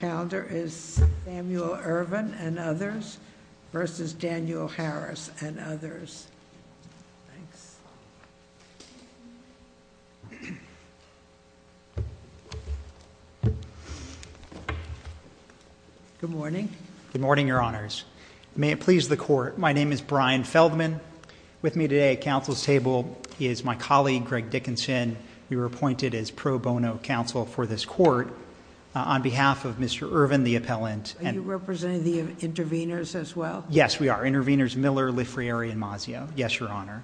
Calendar is Samuel Irvin v. Daniel Harris Good morning. Good morning, Your Honors. May it please the Court, my name is Brian Feldman. With me today at Council's table is my colleague, Greg Dickinson. We were appointed as pro bono counsel for this Court on behalf of Mr. Irvin, the appellant. Are you representing the intervenors as well? Yes, we are. Intervenors Miller, Lefriere, and Mazio. Yes, Your Honor.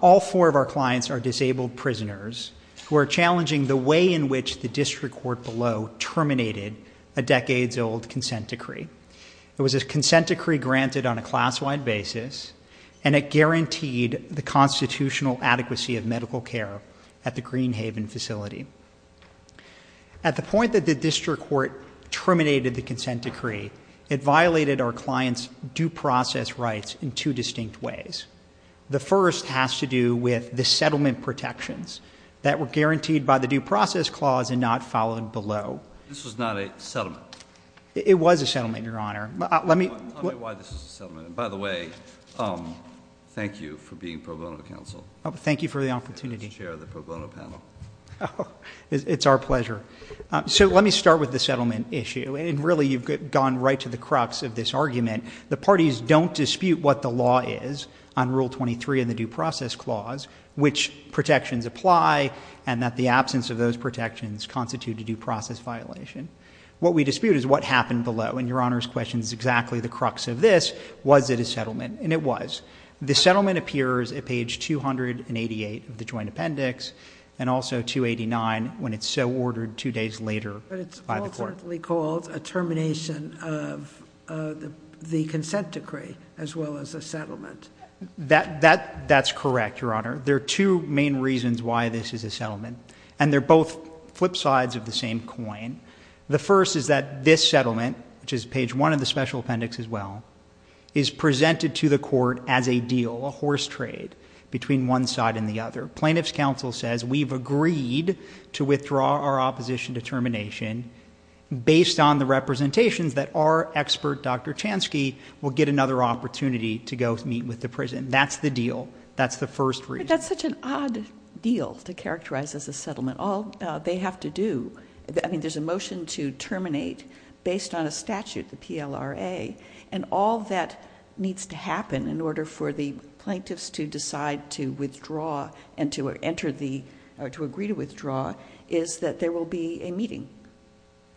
All four of our clients are disabled prisoners who are challenging the way in which the district court below terminated a decades-old consent decree. It was a consent decree granted on a class-wide basis, and it guaranteed the constitutional adequacy of medical care at the Greenhaven facility. At the point that the district court terminated the consent decree, it violated our clients' due process rights in two distinct ways. The first has to do with the settlement protections that were guaranteed by the due process clause and not followed below. This was not a settlement. It was a settlement, Your Honor. Tell me why this is a settlement. By the way, thank you for being pro bono counsel. Thank you for the opportunity. Chair of the pro bono panel. It's our pleasure. So let me start with the settlement issue, and really you've gone right to the crux of this argument. The parties don't dispute what the law is on Rule 23 in the due process clause, which protections apply, and that the absence of those protections constitute a due process violation. What we dispute is what happened below, and Your Honor's question is exactly the crux of this. Was it a settlement? And it was. The settlement appears at page 288 of the joint appendix and also 289 when it's so ordered two days later by the court. But it's ultimately called a termination of the consent decree as well as a settlement. That's correct, Your Honor. There are two main reasons why this is a settlement, and they're both flip sides of the same coin. The first is that this settlement, which is page one of the special appendix as well, is presented to the court as a deal, a horse trade between one side and the other. Plaintiff's counsel says we've agreed to withdraw our opposition to termination based on the representations that our expert, Dr. Chansky, will get another opportunity to go meet with the prison. That's the deal. That's the first reason. But that's such an odd deal to characterize as a settlement. All they have to do, I mean, there's a motion to terminate based on a statute, the PLRA, and all that needs to happen in order for the plaintiffs to decide to withdraw and to enter the, or to agree to withdraw is that there will be a meeting.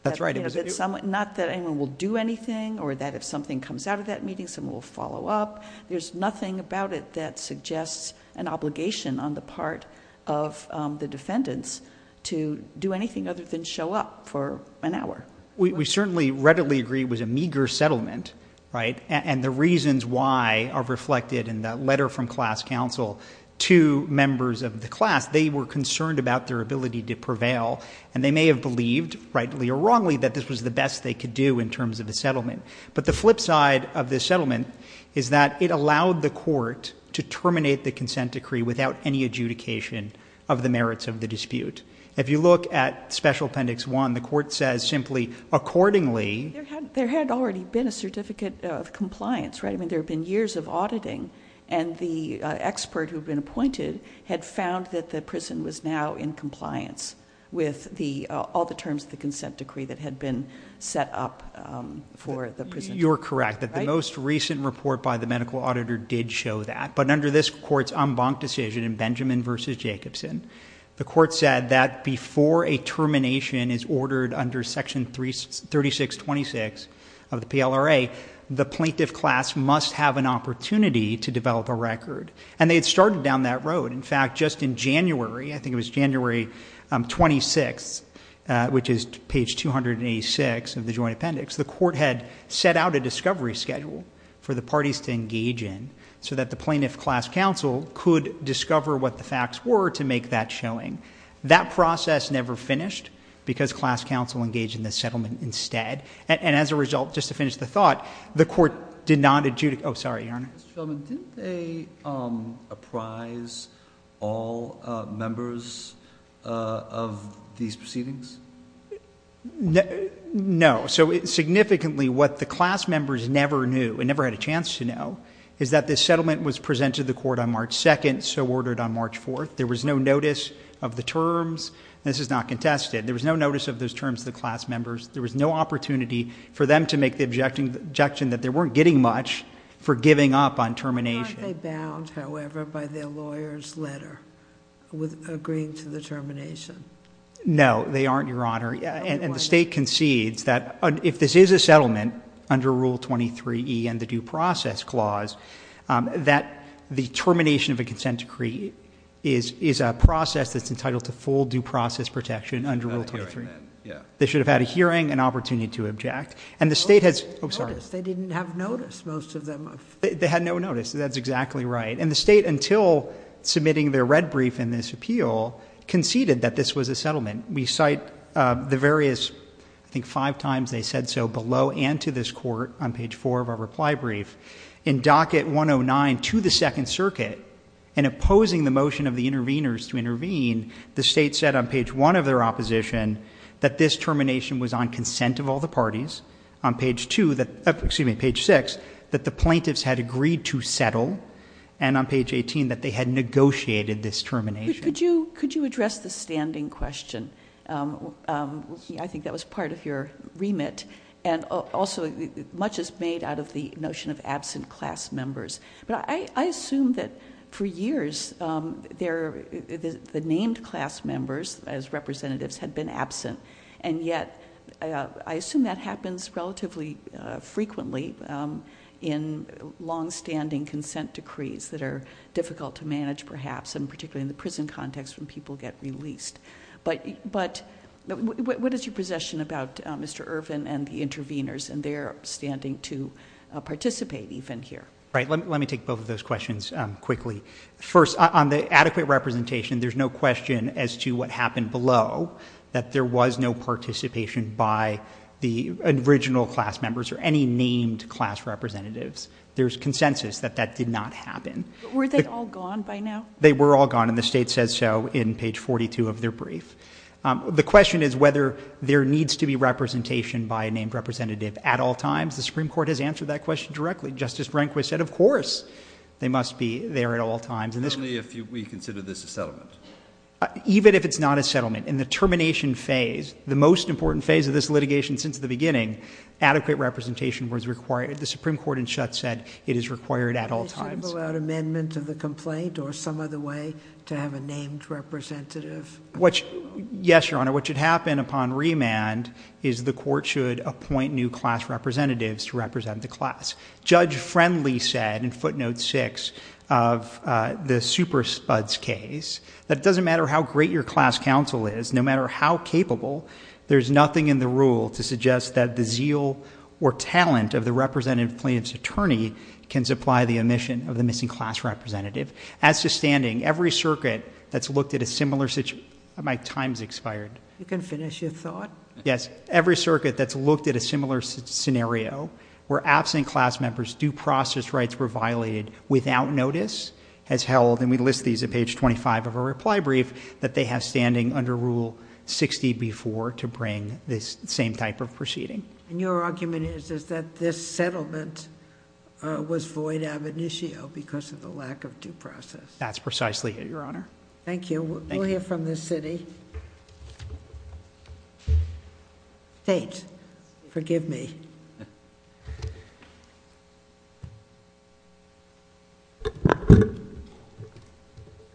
That's right. Not that anyone will do anything or that if something comes out of that meeting someone will follow up. There's nothing about it that suggests an obligation on the part of the defendants to do anything other than show up for an hour. We certainly readily agree it was a meager settlement, right, and the reasons why are reflected in that letter from class counsel to members of the class. They were concerned about their ability to prevail, and they may have believed, rightly or wrongly, that this was the best they could do in terms of a settlement. But the flip side of this settlement is that it allowed the court to terminate the consent decree without any adjudication of the merits of the dispute. If you look at Special Appendix 1, the court says simply, accordingly. There had already been a certificate of compliance, right? I mean, there had been years of auditing, and the expert who had been appointed had found that the prison was now in compliance with all the terms of the consent decree that had been set up for the prison. You're correct that the most recent report by the medical auditor did show that, but under this court's en banc decision in Benjamin v. Jacobson, the court said that before a termination is ordered under Section 3626 of the PLRA, the plaintiff class must have an opportunity to develop a record, and they had started down that road. In fact, just in January, I think it was January 26th, which is page 286 of the joint appendix, the court had set out a discovery schedule for the parties to engage in so that the plaintiff class counsel could discover what the facts were to make that showing. That process never finished because class counsel engaged in the settlement instead, and as a result, just to finish the thought, the court did not adjudicate. Oh, sorry, Your Honor. Mr. Feldman, didn't they apprise all members of these proceedings? No. So significantly what the class members never knew and never had a chance to know is that this settlement was presented to the court on March 2nd, so ordered on March 4th. There was no notice of the terms. This is not contested. There was no notice of those terms to the class members. There was no opportunity for them to make the objection that they weren't getting much for giving up on termination. Aren't they bound, however, by their lawyer's letter with agreeing to the termination? No, they aren't, Your Honor. And the State concedes that if this is a settlement under Rule 23e and the Due Process Clause, that the termination of a consent decree is a process that's entitled to full due process protection under Rule 23. They should have had a hearing, an opportunity to object. They didn't have notice, most of them. They had no notice. That's exactly right. And the State, until submitting their red brief in this appeal, conceded that this was a settlement. We cite the various, I think, five times they said so below and to this court on page 4 of our reply brief. In Docket 109 to the Second Circuit, in opposing the motion of the interveners to intervene, the State said on page 1 of their opposition that this termination was on consent of all the parties. On page 2, excuse me, page 6, that the plaintiffs had agreed to settle. And on page 18, that they had negotiated this termination. Could you address the standing question? I think that was part of your remit. And also, much is made out of the notion of absent class members. But I assume that for years, the named class members as representatives had been absent. And yet, I assume that happens relatively frequently in long-standing consent decrees that are difficult to manage, perhaps, and particularly in the prison context when people get released. But what is your possession about Mr. Irvin and the interveners and their standing to participate even here? Right. Let me take both of those questions quickly. First, on the adequate representation, there's no question as to what happened below, that there was no participation by the original class members or any named class representatives. There's consensus that that did not happen. But were they all gone by now? They were all gone, and the State says so in page 42 of their brief. The question is whether there needs to be representation by a named representative at all times. The Supreme Court has answered that question directly. Justice Rehnquist said, of course, they must be there at all times. Only if we consider this a settlement? Even if it's not a settlement. In the termination phase, the most important phase of this litigation since the beginning, adequate representation was required. The Supreme Court, in shutset, it is required at all times. Shouldn't there be an amendment to the complaint or some other way to have a named representative? Yes, Your Honor. What should happen upon remand is the court should appoint new class representatives to represent the class. Judge Friendly said in footnote 6 of the super spuds case, that it doesn't matter how great your class counsel is, no matter how capable, there's nothing in the rule to suggest that the zeal or talent of the representative plaintiff's attorney can supply the omission of the missing class representative. As to standing, every circuit that's looked at a similar, my time's expired. You can finish your thought. Yes. Every circuit that's looked at a similar scenario, where absent class members' due process rights were violated without notice, has held, and we list these at page 25 of our reply brief, that they have standing under rule 60B4 to bring this same type of proceeding. And your argument is that this settlement was void ab initio because of the lack of due process. That's precisely it, Your Honor. Thank you. Thank you. We'll hear from the city. State. Forgive me.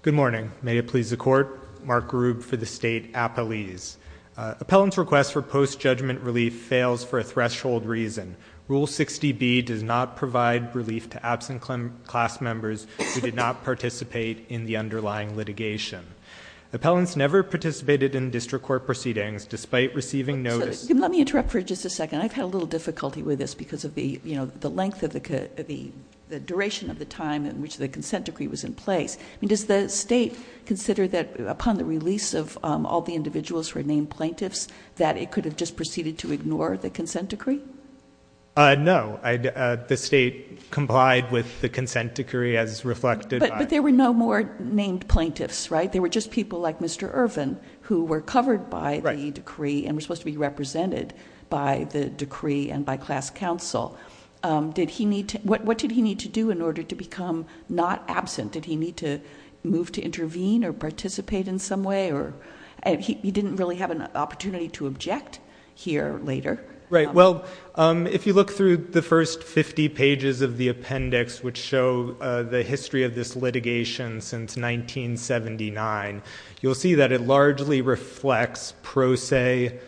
Good morning. May it please the court. Mark Grube for the state appellees. Appellant's request for post-judgment relief fails for a threshold reason. Rule 60B does not provide relief to absent class members who did not participate in the underlying litigation. Appellants never participated in district court proceedings despite receiving notice. Let me interrupt for just a second. I've had a little difficulty with this because of the length of the duration of the time in which the consent decree was in place. Does the state consider that upon the release of all the individuals who are named plaintiffs, that it could have just proceeded to ignore the consent decree? No. The state complied with the consent decree as reflected by- But there were no more named plaintiffs, right? There were just people like Mr. Irvin who were covered by the decree and were supposed to be represented by the decree and by class counsel. What did he need to do in order to become not absent? Did he need to move to intervene or participate in some way? He didn't really have an opportunity to object here later. Right. Well, if you look through the first 50 pages of the appendix which show the history of this litigation since 1979, you'll see that it largely reflects pro se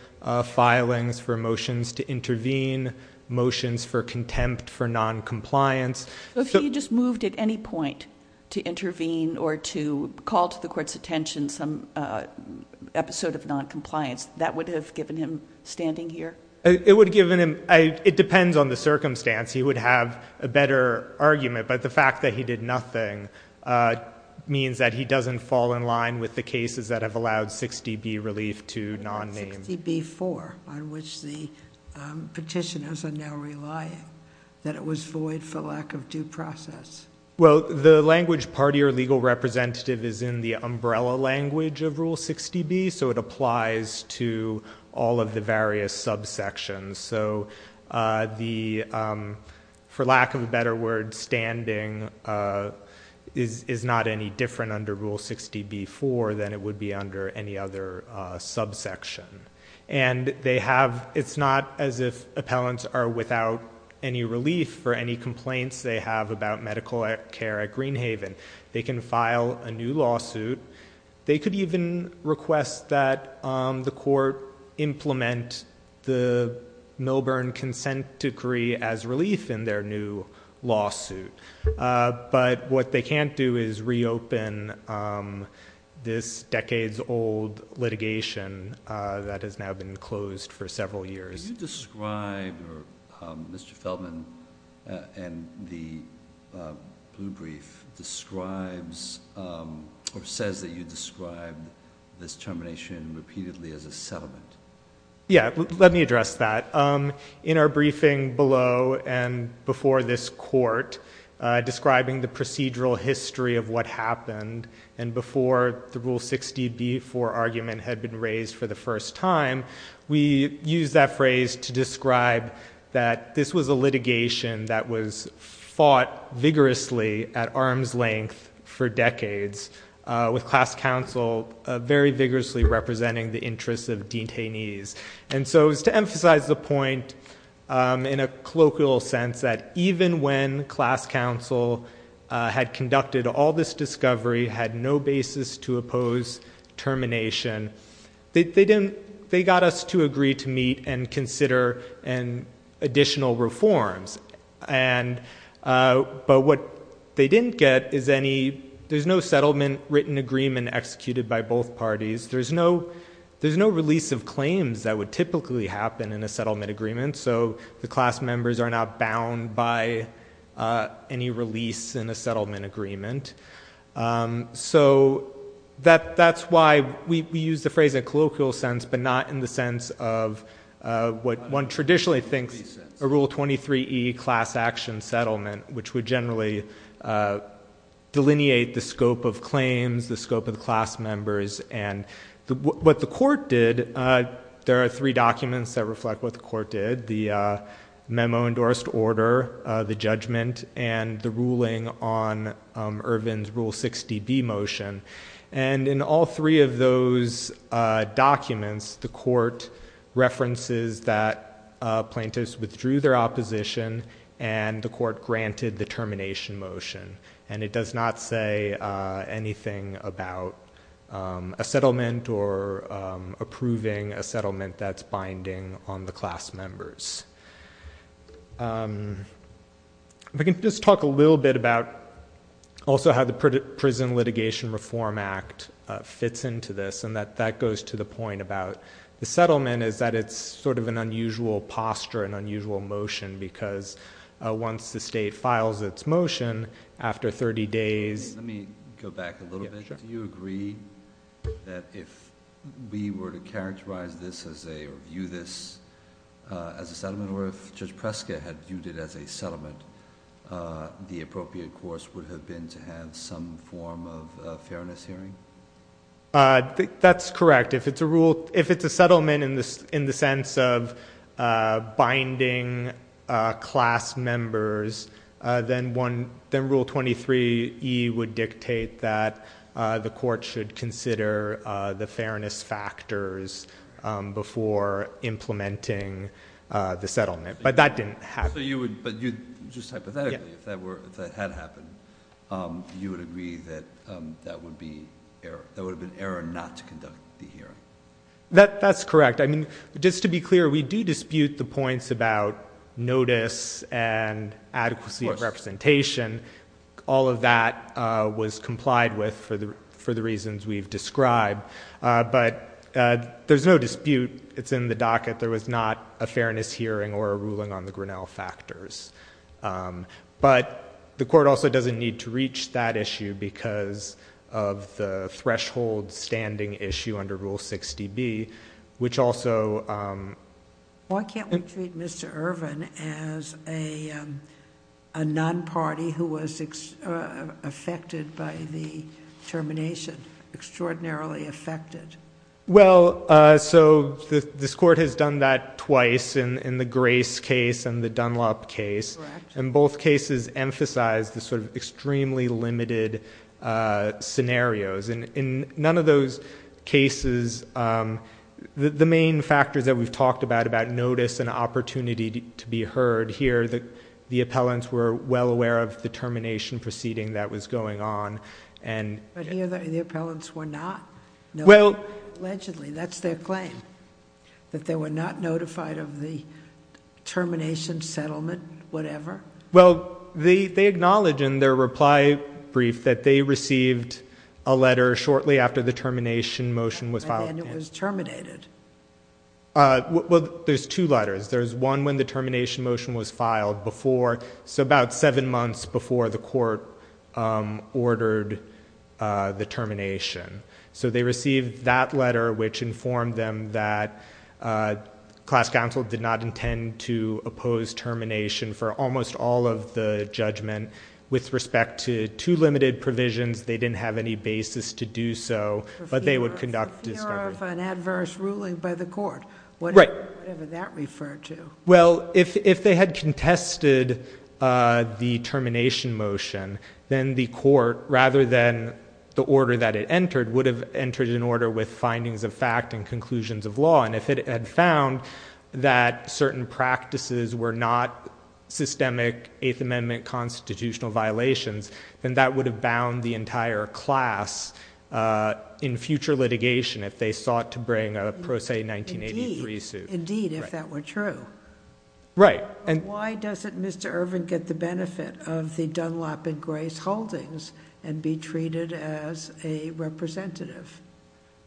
filings for motions to intervene, motions for contempt for noncompliance. If he just moved at any point to intervene or to call to the court's attention some episode of noncompliance, that would have given him standing here? It would have given him- It depends on the circumstance. He would have a better argument, but the fact that he did nothing means that he doesn't fall in line with the cases that have allowed 60B relief to non-name. Rule 60B-4 on which the petitioners are now relying, that it was void for lack of due process. Well, the language party or legal representative is in the umbrella language of Rule 60B, so it applies to all of the various subsections. For lack of a better word, standing is not any different under Rule 60B-4 than it would be under any other subsection. It's not as if appellants are without any relief for any complaints they have about medical care at Greenhaven. They can file a new lawsuit. They could even request that the court implement the Milburn consent decree as relief in their new lawsuit, but what they can't do is reopen this decades-old litigation that has now been closed for several years. Mr. Feldman, the blue brief describes or says that you described this termination repeatedly as a settlement. Yeah, let me address that. In our briefing below and before this court, describing the procedural history of what happened and before the Rule 60B-4 argument had been raised for the first time, we used that phrase to describe that this was a litigation that was fought vigorously at arm's length for decades with class counsel very vigorously representing the interests of detainees. And so it was to emphasize the point in a colloquial sense that even when class counsel had conducted all this discovery, had no basis to oppose termination, they got us to agree to meet and consider additional reforms. But what they didn't get is there's no settlement written agreement executed by both parties. There's no release of claims that would typically happen in a settlement agreement, so the class members are not bound by any release in a settlement agreement. So that's why we used the phrase in a colloquial sense but not in the sense of what one traditionally thinks a Rule 23E class action settlement, which would generally delineate the scope of claims, the scope of the class members, and what the court did, there are three documents that reflect what the court did, the memo endorsed order, the judgment, and the ruling on Irvin's Rule 60B motion. And in all three of those documents, the court references that plaintiffs withdrew their opposition and the court granted the termination motion, and it does not say anything about a settlement or approving a settlement that's binding on the class members. If I can just talk a little bit about also how the Prison Litigation Reform Act fits into this, and that goes to the point about the settlement is that it's sort of an unusual posture, an unusual motion, because once the state files its motion, after 30 days... Let me go back a little bit. Do you agree that if we were to characterize this as a, or view this as a settlement, or if Judge Preska had viewed it as a settlement, the appropriate course would have been to have some form of fairness hearing? That's correct. If it's a rule, if it's a settlement in the sense of binding class members, then Rule 23E would dictate that the court should consider the fairness factors before implementing the settlement. But that didn't happen. Just hypothetically, if that had happened, you would agree that that would have been an error not to conduct the hearing? That's correct. I mean, just to be clear, we do dispute the points about notice and adequacy of representation. All of that was complied with for the reasons we've described, but there's no dispute. It's in the docket. There was not a fairness hearing or a ruling on the Grinnell factors. But the court also doesn't need to reach that issue because of the threshold standing issue under Rule 60B, which also... Why can't we treat Mr. Irvin as a non-party who was affected by the termination, extraordinarily affected? Well, so this court has done that twice in the Grace case and the Dunlop case. Correct. Both cases emphasize the sort of extremely limited scenarios. In none of those cases, the main factors that we've talked about, about notice and opportunity to be heard, here the appellants were well aware of the termination proceeding that was going on. But here the appellants were not? No. Allegedly, that's their claim, that they were not notified of the termination, settlement, whatever? Well, they acknowledge in their reply brief that they received a letter shortly after the termination motion was filed. And then it was terminated. Well, there's two letters. There's one when the termination motion was filed before, so about seven months before the court ordered the termination. So they received that letter, which informed them that class counsel did not intend to oppose termination for almost all of the judgment with respect to two limited provisions. They didn't have any basis to do so, but they would conduct discovery. For fear of an adverse ruling by the court. Right. Whatever that referred to. Well, if they had contested the termination motion, then the court, rather than the order that it entered, would have entered an order with findings of fact and conclusions of law. And if it had found that certain practices were not systemic Eighth Amendment constitutional violations, then that would have bound the entire class in future litigation if they sought to bring a pro se 1983 suit. Indeed, if that were true. Right. Why doesn't Mr. Irvin get the benefit of the Dunlop and Grace Holdings and be treated as a representative?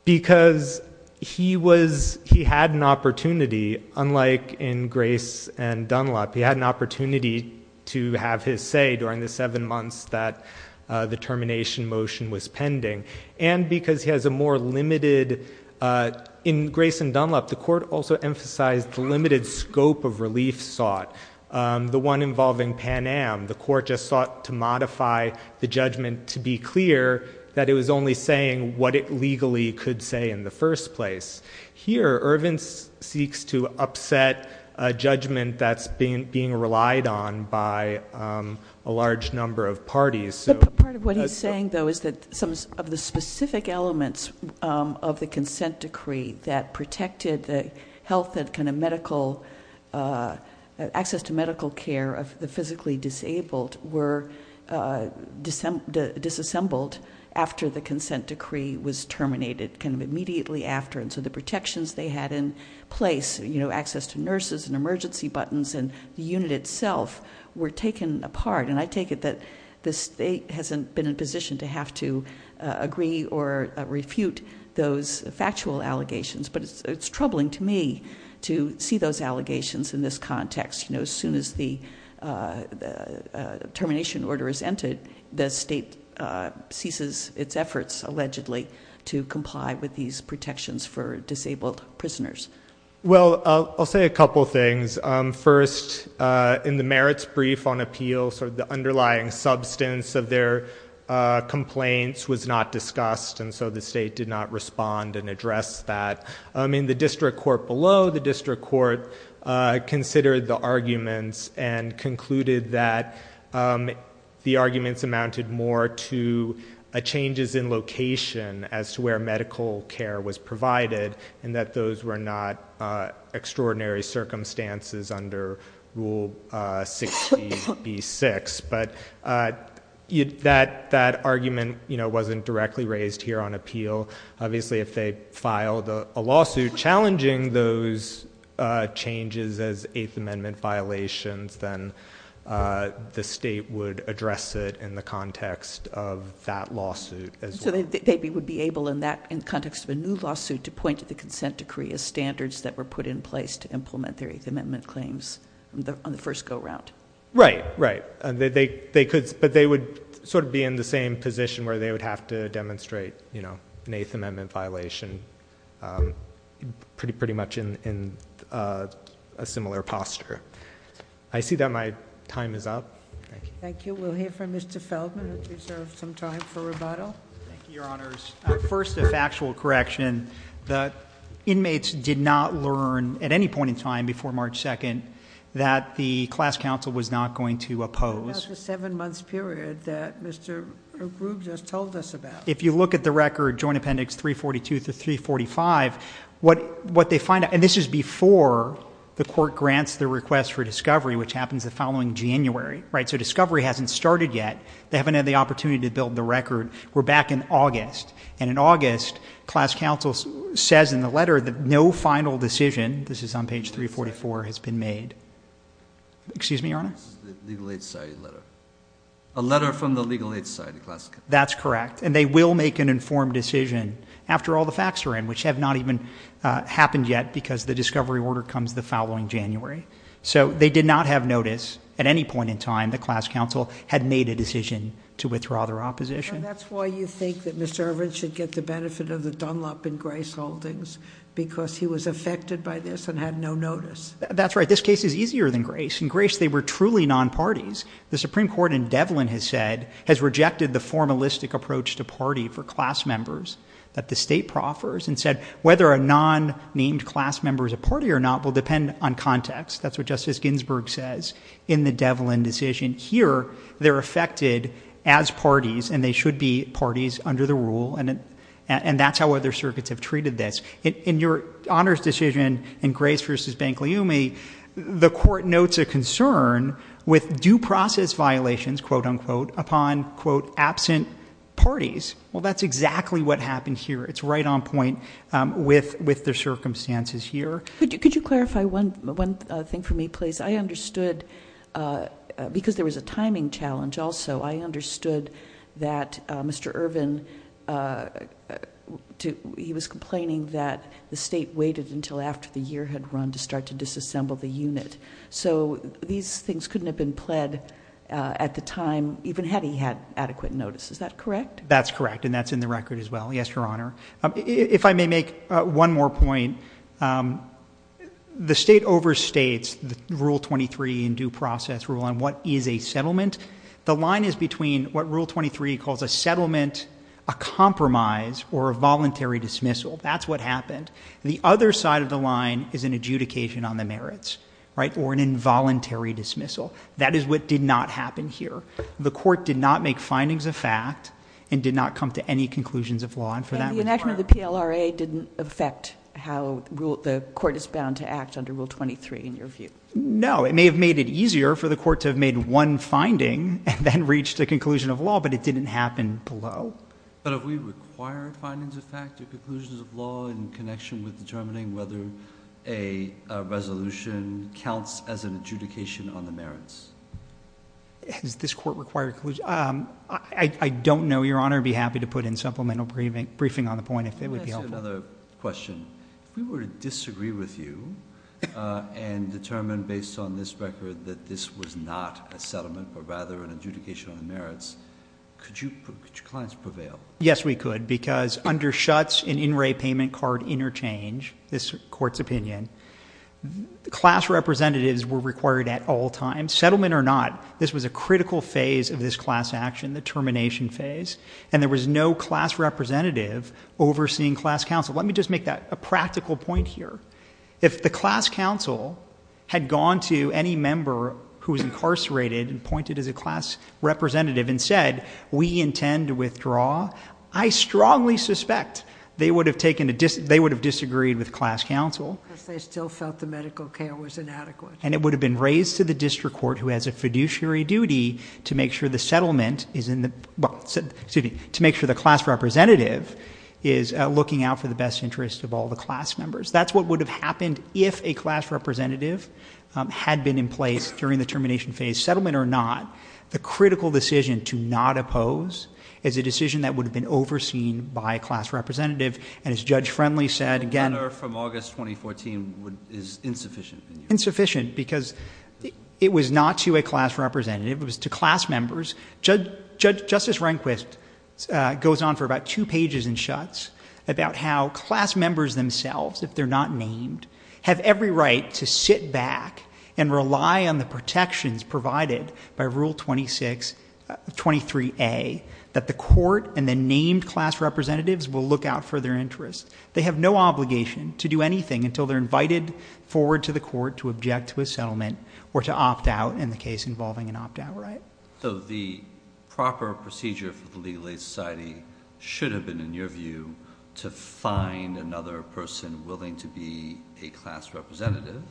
Because he was, he had an opportunity, unlike in Grace and Dunlop, he had an opportunity to have his say during the seven months that the termination motion was pending. And because he has a more limited, in Grace and Dunlop, the court also emphasized the limited scope of relief sought. The one involving Pan Am, the court just sought to modify the judgment to be clear that it was only saying what it legally could say in the first place. Here, Irvin seeks to upset a judgment that's being relied on by a large number of parties. But part of what he's saying, though, is that some of the specific elements of the consent decree that protected the health and kind of access to medical care of the physically disabled were disassembled after the consent decree was terminated, kind of immediately after. And so the protections they had in place, access to nurses and emergency buttons and the unit itself, were taken apart. And I take it that the state hasn't been in a position to have to agree or refute those factual allegations. But it's troubling to me to see those allegations in this context. As soon as the termination order is entered, the state ceases its efforts, allegedly, to comply with these protections for disabled prisoners. Well, I'll say a couple things. First, in the merits brief on appeals, the underlying substance of their complaints was not discussed, and so the state did not respond and address that. In the district court below, the district court considered the arguments and concluded that the arguments amounted more to changes in location as to where medical care was provided and that those were not extraordinary circumstances under Rule 60B-6. But that argument wasn't directly raised here on appeal. Obviously, if they filed a lawsuit challenging those changes as Eighth Amendment violations, then the state would address it in the context of that lawsuit as well. So they would be able, in the context of a new lawsuit, to point to the consent decree as standards that were put in place to implement their Eighth Amendment claims on the first go-round. Right, right. But they would sort of be in the same position where they would have to demonstrate an Eighth Amendment violation, pretty much in a similar posture. I see that my time is up. Thank you. We'll hear from Mr. Feldman, who deserves some time for rebuttal. Thank you, Your Honors. First, a factual correction. The inmates did not learn at any point in time before March 2nd that the class counsel was not going to oppose. About the seven-month period that Mr. Groob just told us about. If you look at the record, Joint Appendix 342 to 345, what they find out, and this is before the court grants the request for discovery, which happens the following January, right? They haven't started yet. They haven't had the opportunity to build the record. We're back in August, and in August, class counsel says in the letter that no final decision, this is on page 344, has been made. Excuse me, Your Honor? This is the Legal Aid Society letter. A letter from the Legal Aid Society class counsel. That's correct. And they will make an informed decision after all the facts are in, which have not even happened yet because the discovery order comes the following January. So they did not have notice at any point in time that class counsel had made a decision to withdraw their opposition. That's why you think that Mr. Irvin should get the benefit of the dunlop in Grace Holdings because he was affected by this and had no notice. That's right. This case is easier than Grace. In Grace, they were truly non-parties. The Supreme Court in Devlin has said, has rejected the formalistic approach to party for class members that the state proffers and said whether a non-named class member is a party or not will depend on context. That's what Justice Ginsburg says in the Devlin decision. Here, they're affected as parties, and they should be parties under the rule, and that's how other circuits have treated this. In your Honor's decision in Grace v. Bankleumi, the court notes a concern with due process violations, quote, unquote, upon, quote, absent parties. Well, that's exactly what happened here. It's right on point with the circumstances here. Could you clarify one thing for me, please? I understood, because there was a timing challenge also, I understood that Mr. Irvin, he was complaining that the state waited until after the year had run to start to disassemble the unit. So these things couldn't have been pled at the time, even had he had adequate notice. Is that correct? That's correct, and that's in the record as well. Yes, Your Honor. If I may make one more point, the state overstates the Rule 23 in due process rule on what is a settlement. The line is between what Rule 23 calls a settlement, a compromise, or a voluntary dismissal. That's what happened. The other side of the line is an adjudication on the merits, right, or an involuntary dismissal. That is what did not happen here. The court did not make findings of fact and did not come to any conclusions of law. And for that reason, Your Honor. And the enactment of the PLRA didn't affect how the court is bound to act under Rule 23 in your view? No. It may have made it easier for the court to have made one finding and then reached a conclusion of law, but it didn't happen below. But have we required findings of fact or conclusions of law in connection with determining whether a resolution counts as an adjudication on the merits? Has this court required conclusions? I don't know, Your Honor. I'd be happy to put in supplemental briefing on the point if it would be helpful. Let me ask you another question. If we were to disagree with you and determine based on this record that this was not a settlement but rather an adjudication on the merits, could your clients prevail? Yes, we could. Because under Schutz and in-ray payment card interchange, this court's opinion, class representatives were required at all times. Settlement or not, this was a critical phase of this class action, the termination phase. And there was no class representative overseeing class counsel. Let me just make a practical point here. If the class counsel had gone to any member who was incarcerated and pointed as a class representative and said, we intend to withdraw, I strongly suspect they would have disagreed with class counsel. Because they still felt the medical care was inadequate. And it would have been raised to the district court who has a fiduciary duty to make sure the class representative is looking out for the best interest of all the class members. That's what would have happened if a class representative had been in place during the termination phase. Settlement or not, the critical decision to not oppose is a decision that would have been overseen by a class representative. And as Judge Friendly said, again- It was not to a class representative. It was to class members. Justice Rehnquist goes on for about two pages in Schutz about how class members themselves, if they're not named, have every right to sit back and rely on the protections provided by Rule 23A that the court and the named class representatives will look out for their interests. They have no obligation to do anything until they're invited forward to the court to object to a settlement or to opt out in the case involving an opt-out, right? So the proper procedure for the Legal Aid Society should have been, in your view, to find another person willing to be a class representative.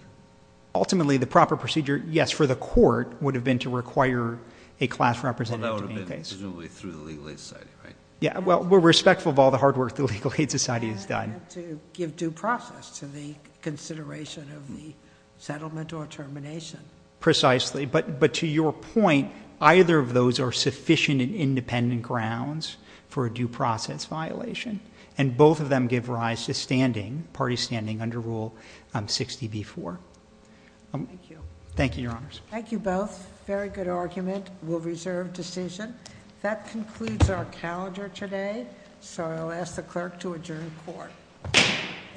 Ultimately, the proper procedure, yes, for the court would have been to require a class representative to be in place. Well, that would have been presumably through the Legal Aid Society, right? Yeah, well, we're respectful of all the hard work the Legal Aid Society has done. And to give due process to the consideration of the settlement or termination. Precisely. But to your point, either of those are sufficient and independent grounds for a due process violation. And both of them give rise to standing, party standing, under Rule 60b-4. Thank you. Thank you, Your Honors. Thank you both. Very good argument. We'll reserve decision. That concludes our calendar today, so I'll ask the clerk to adjourn court. Court is adjourned.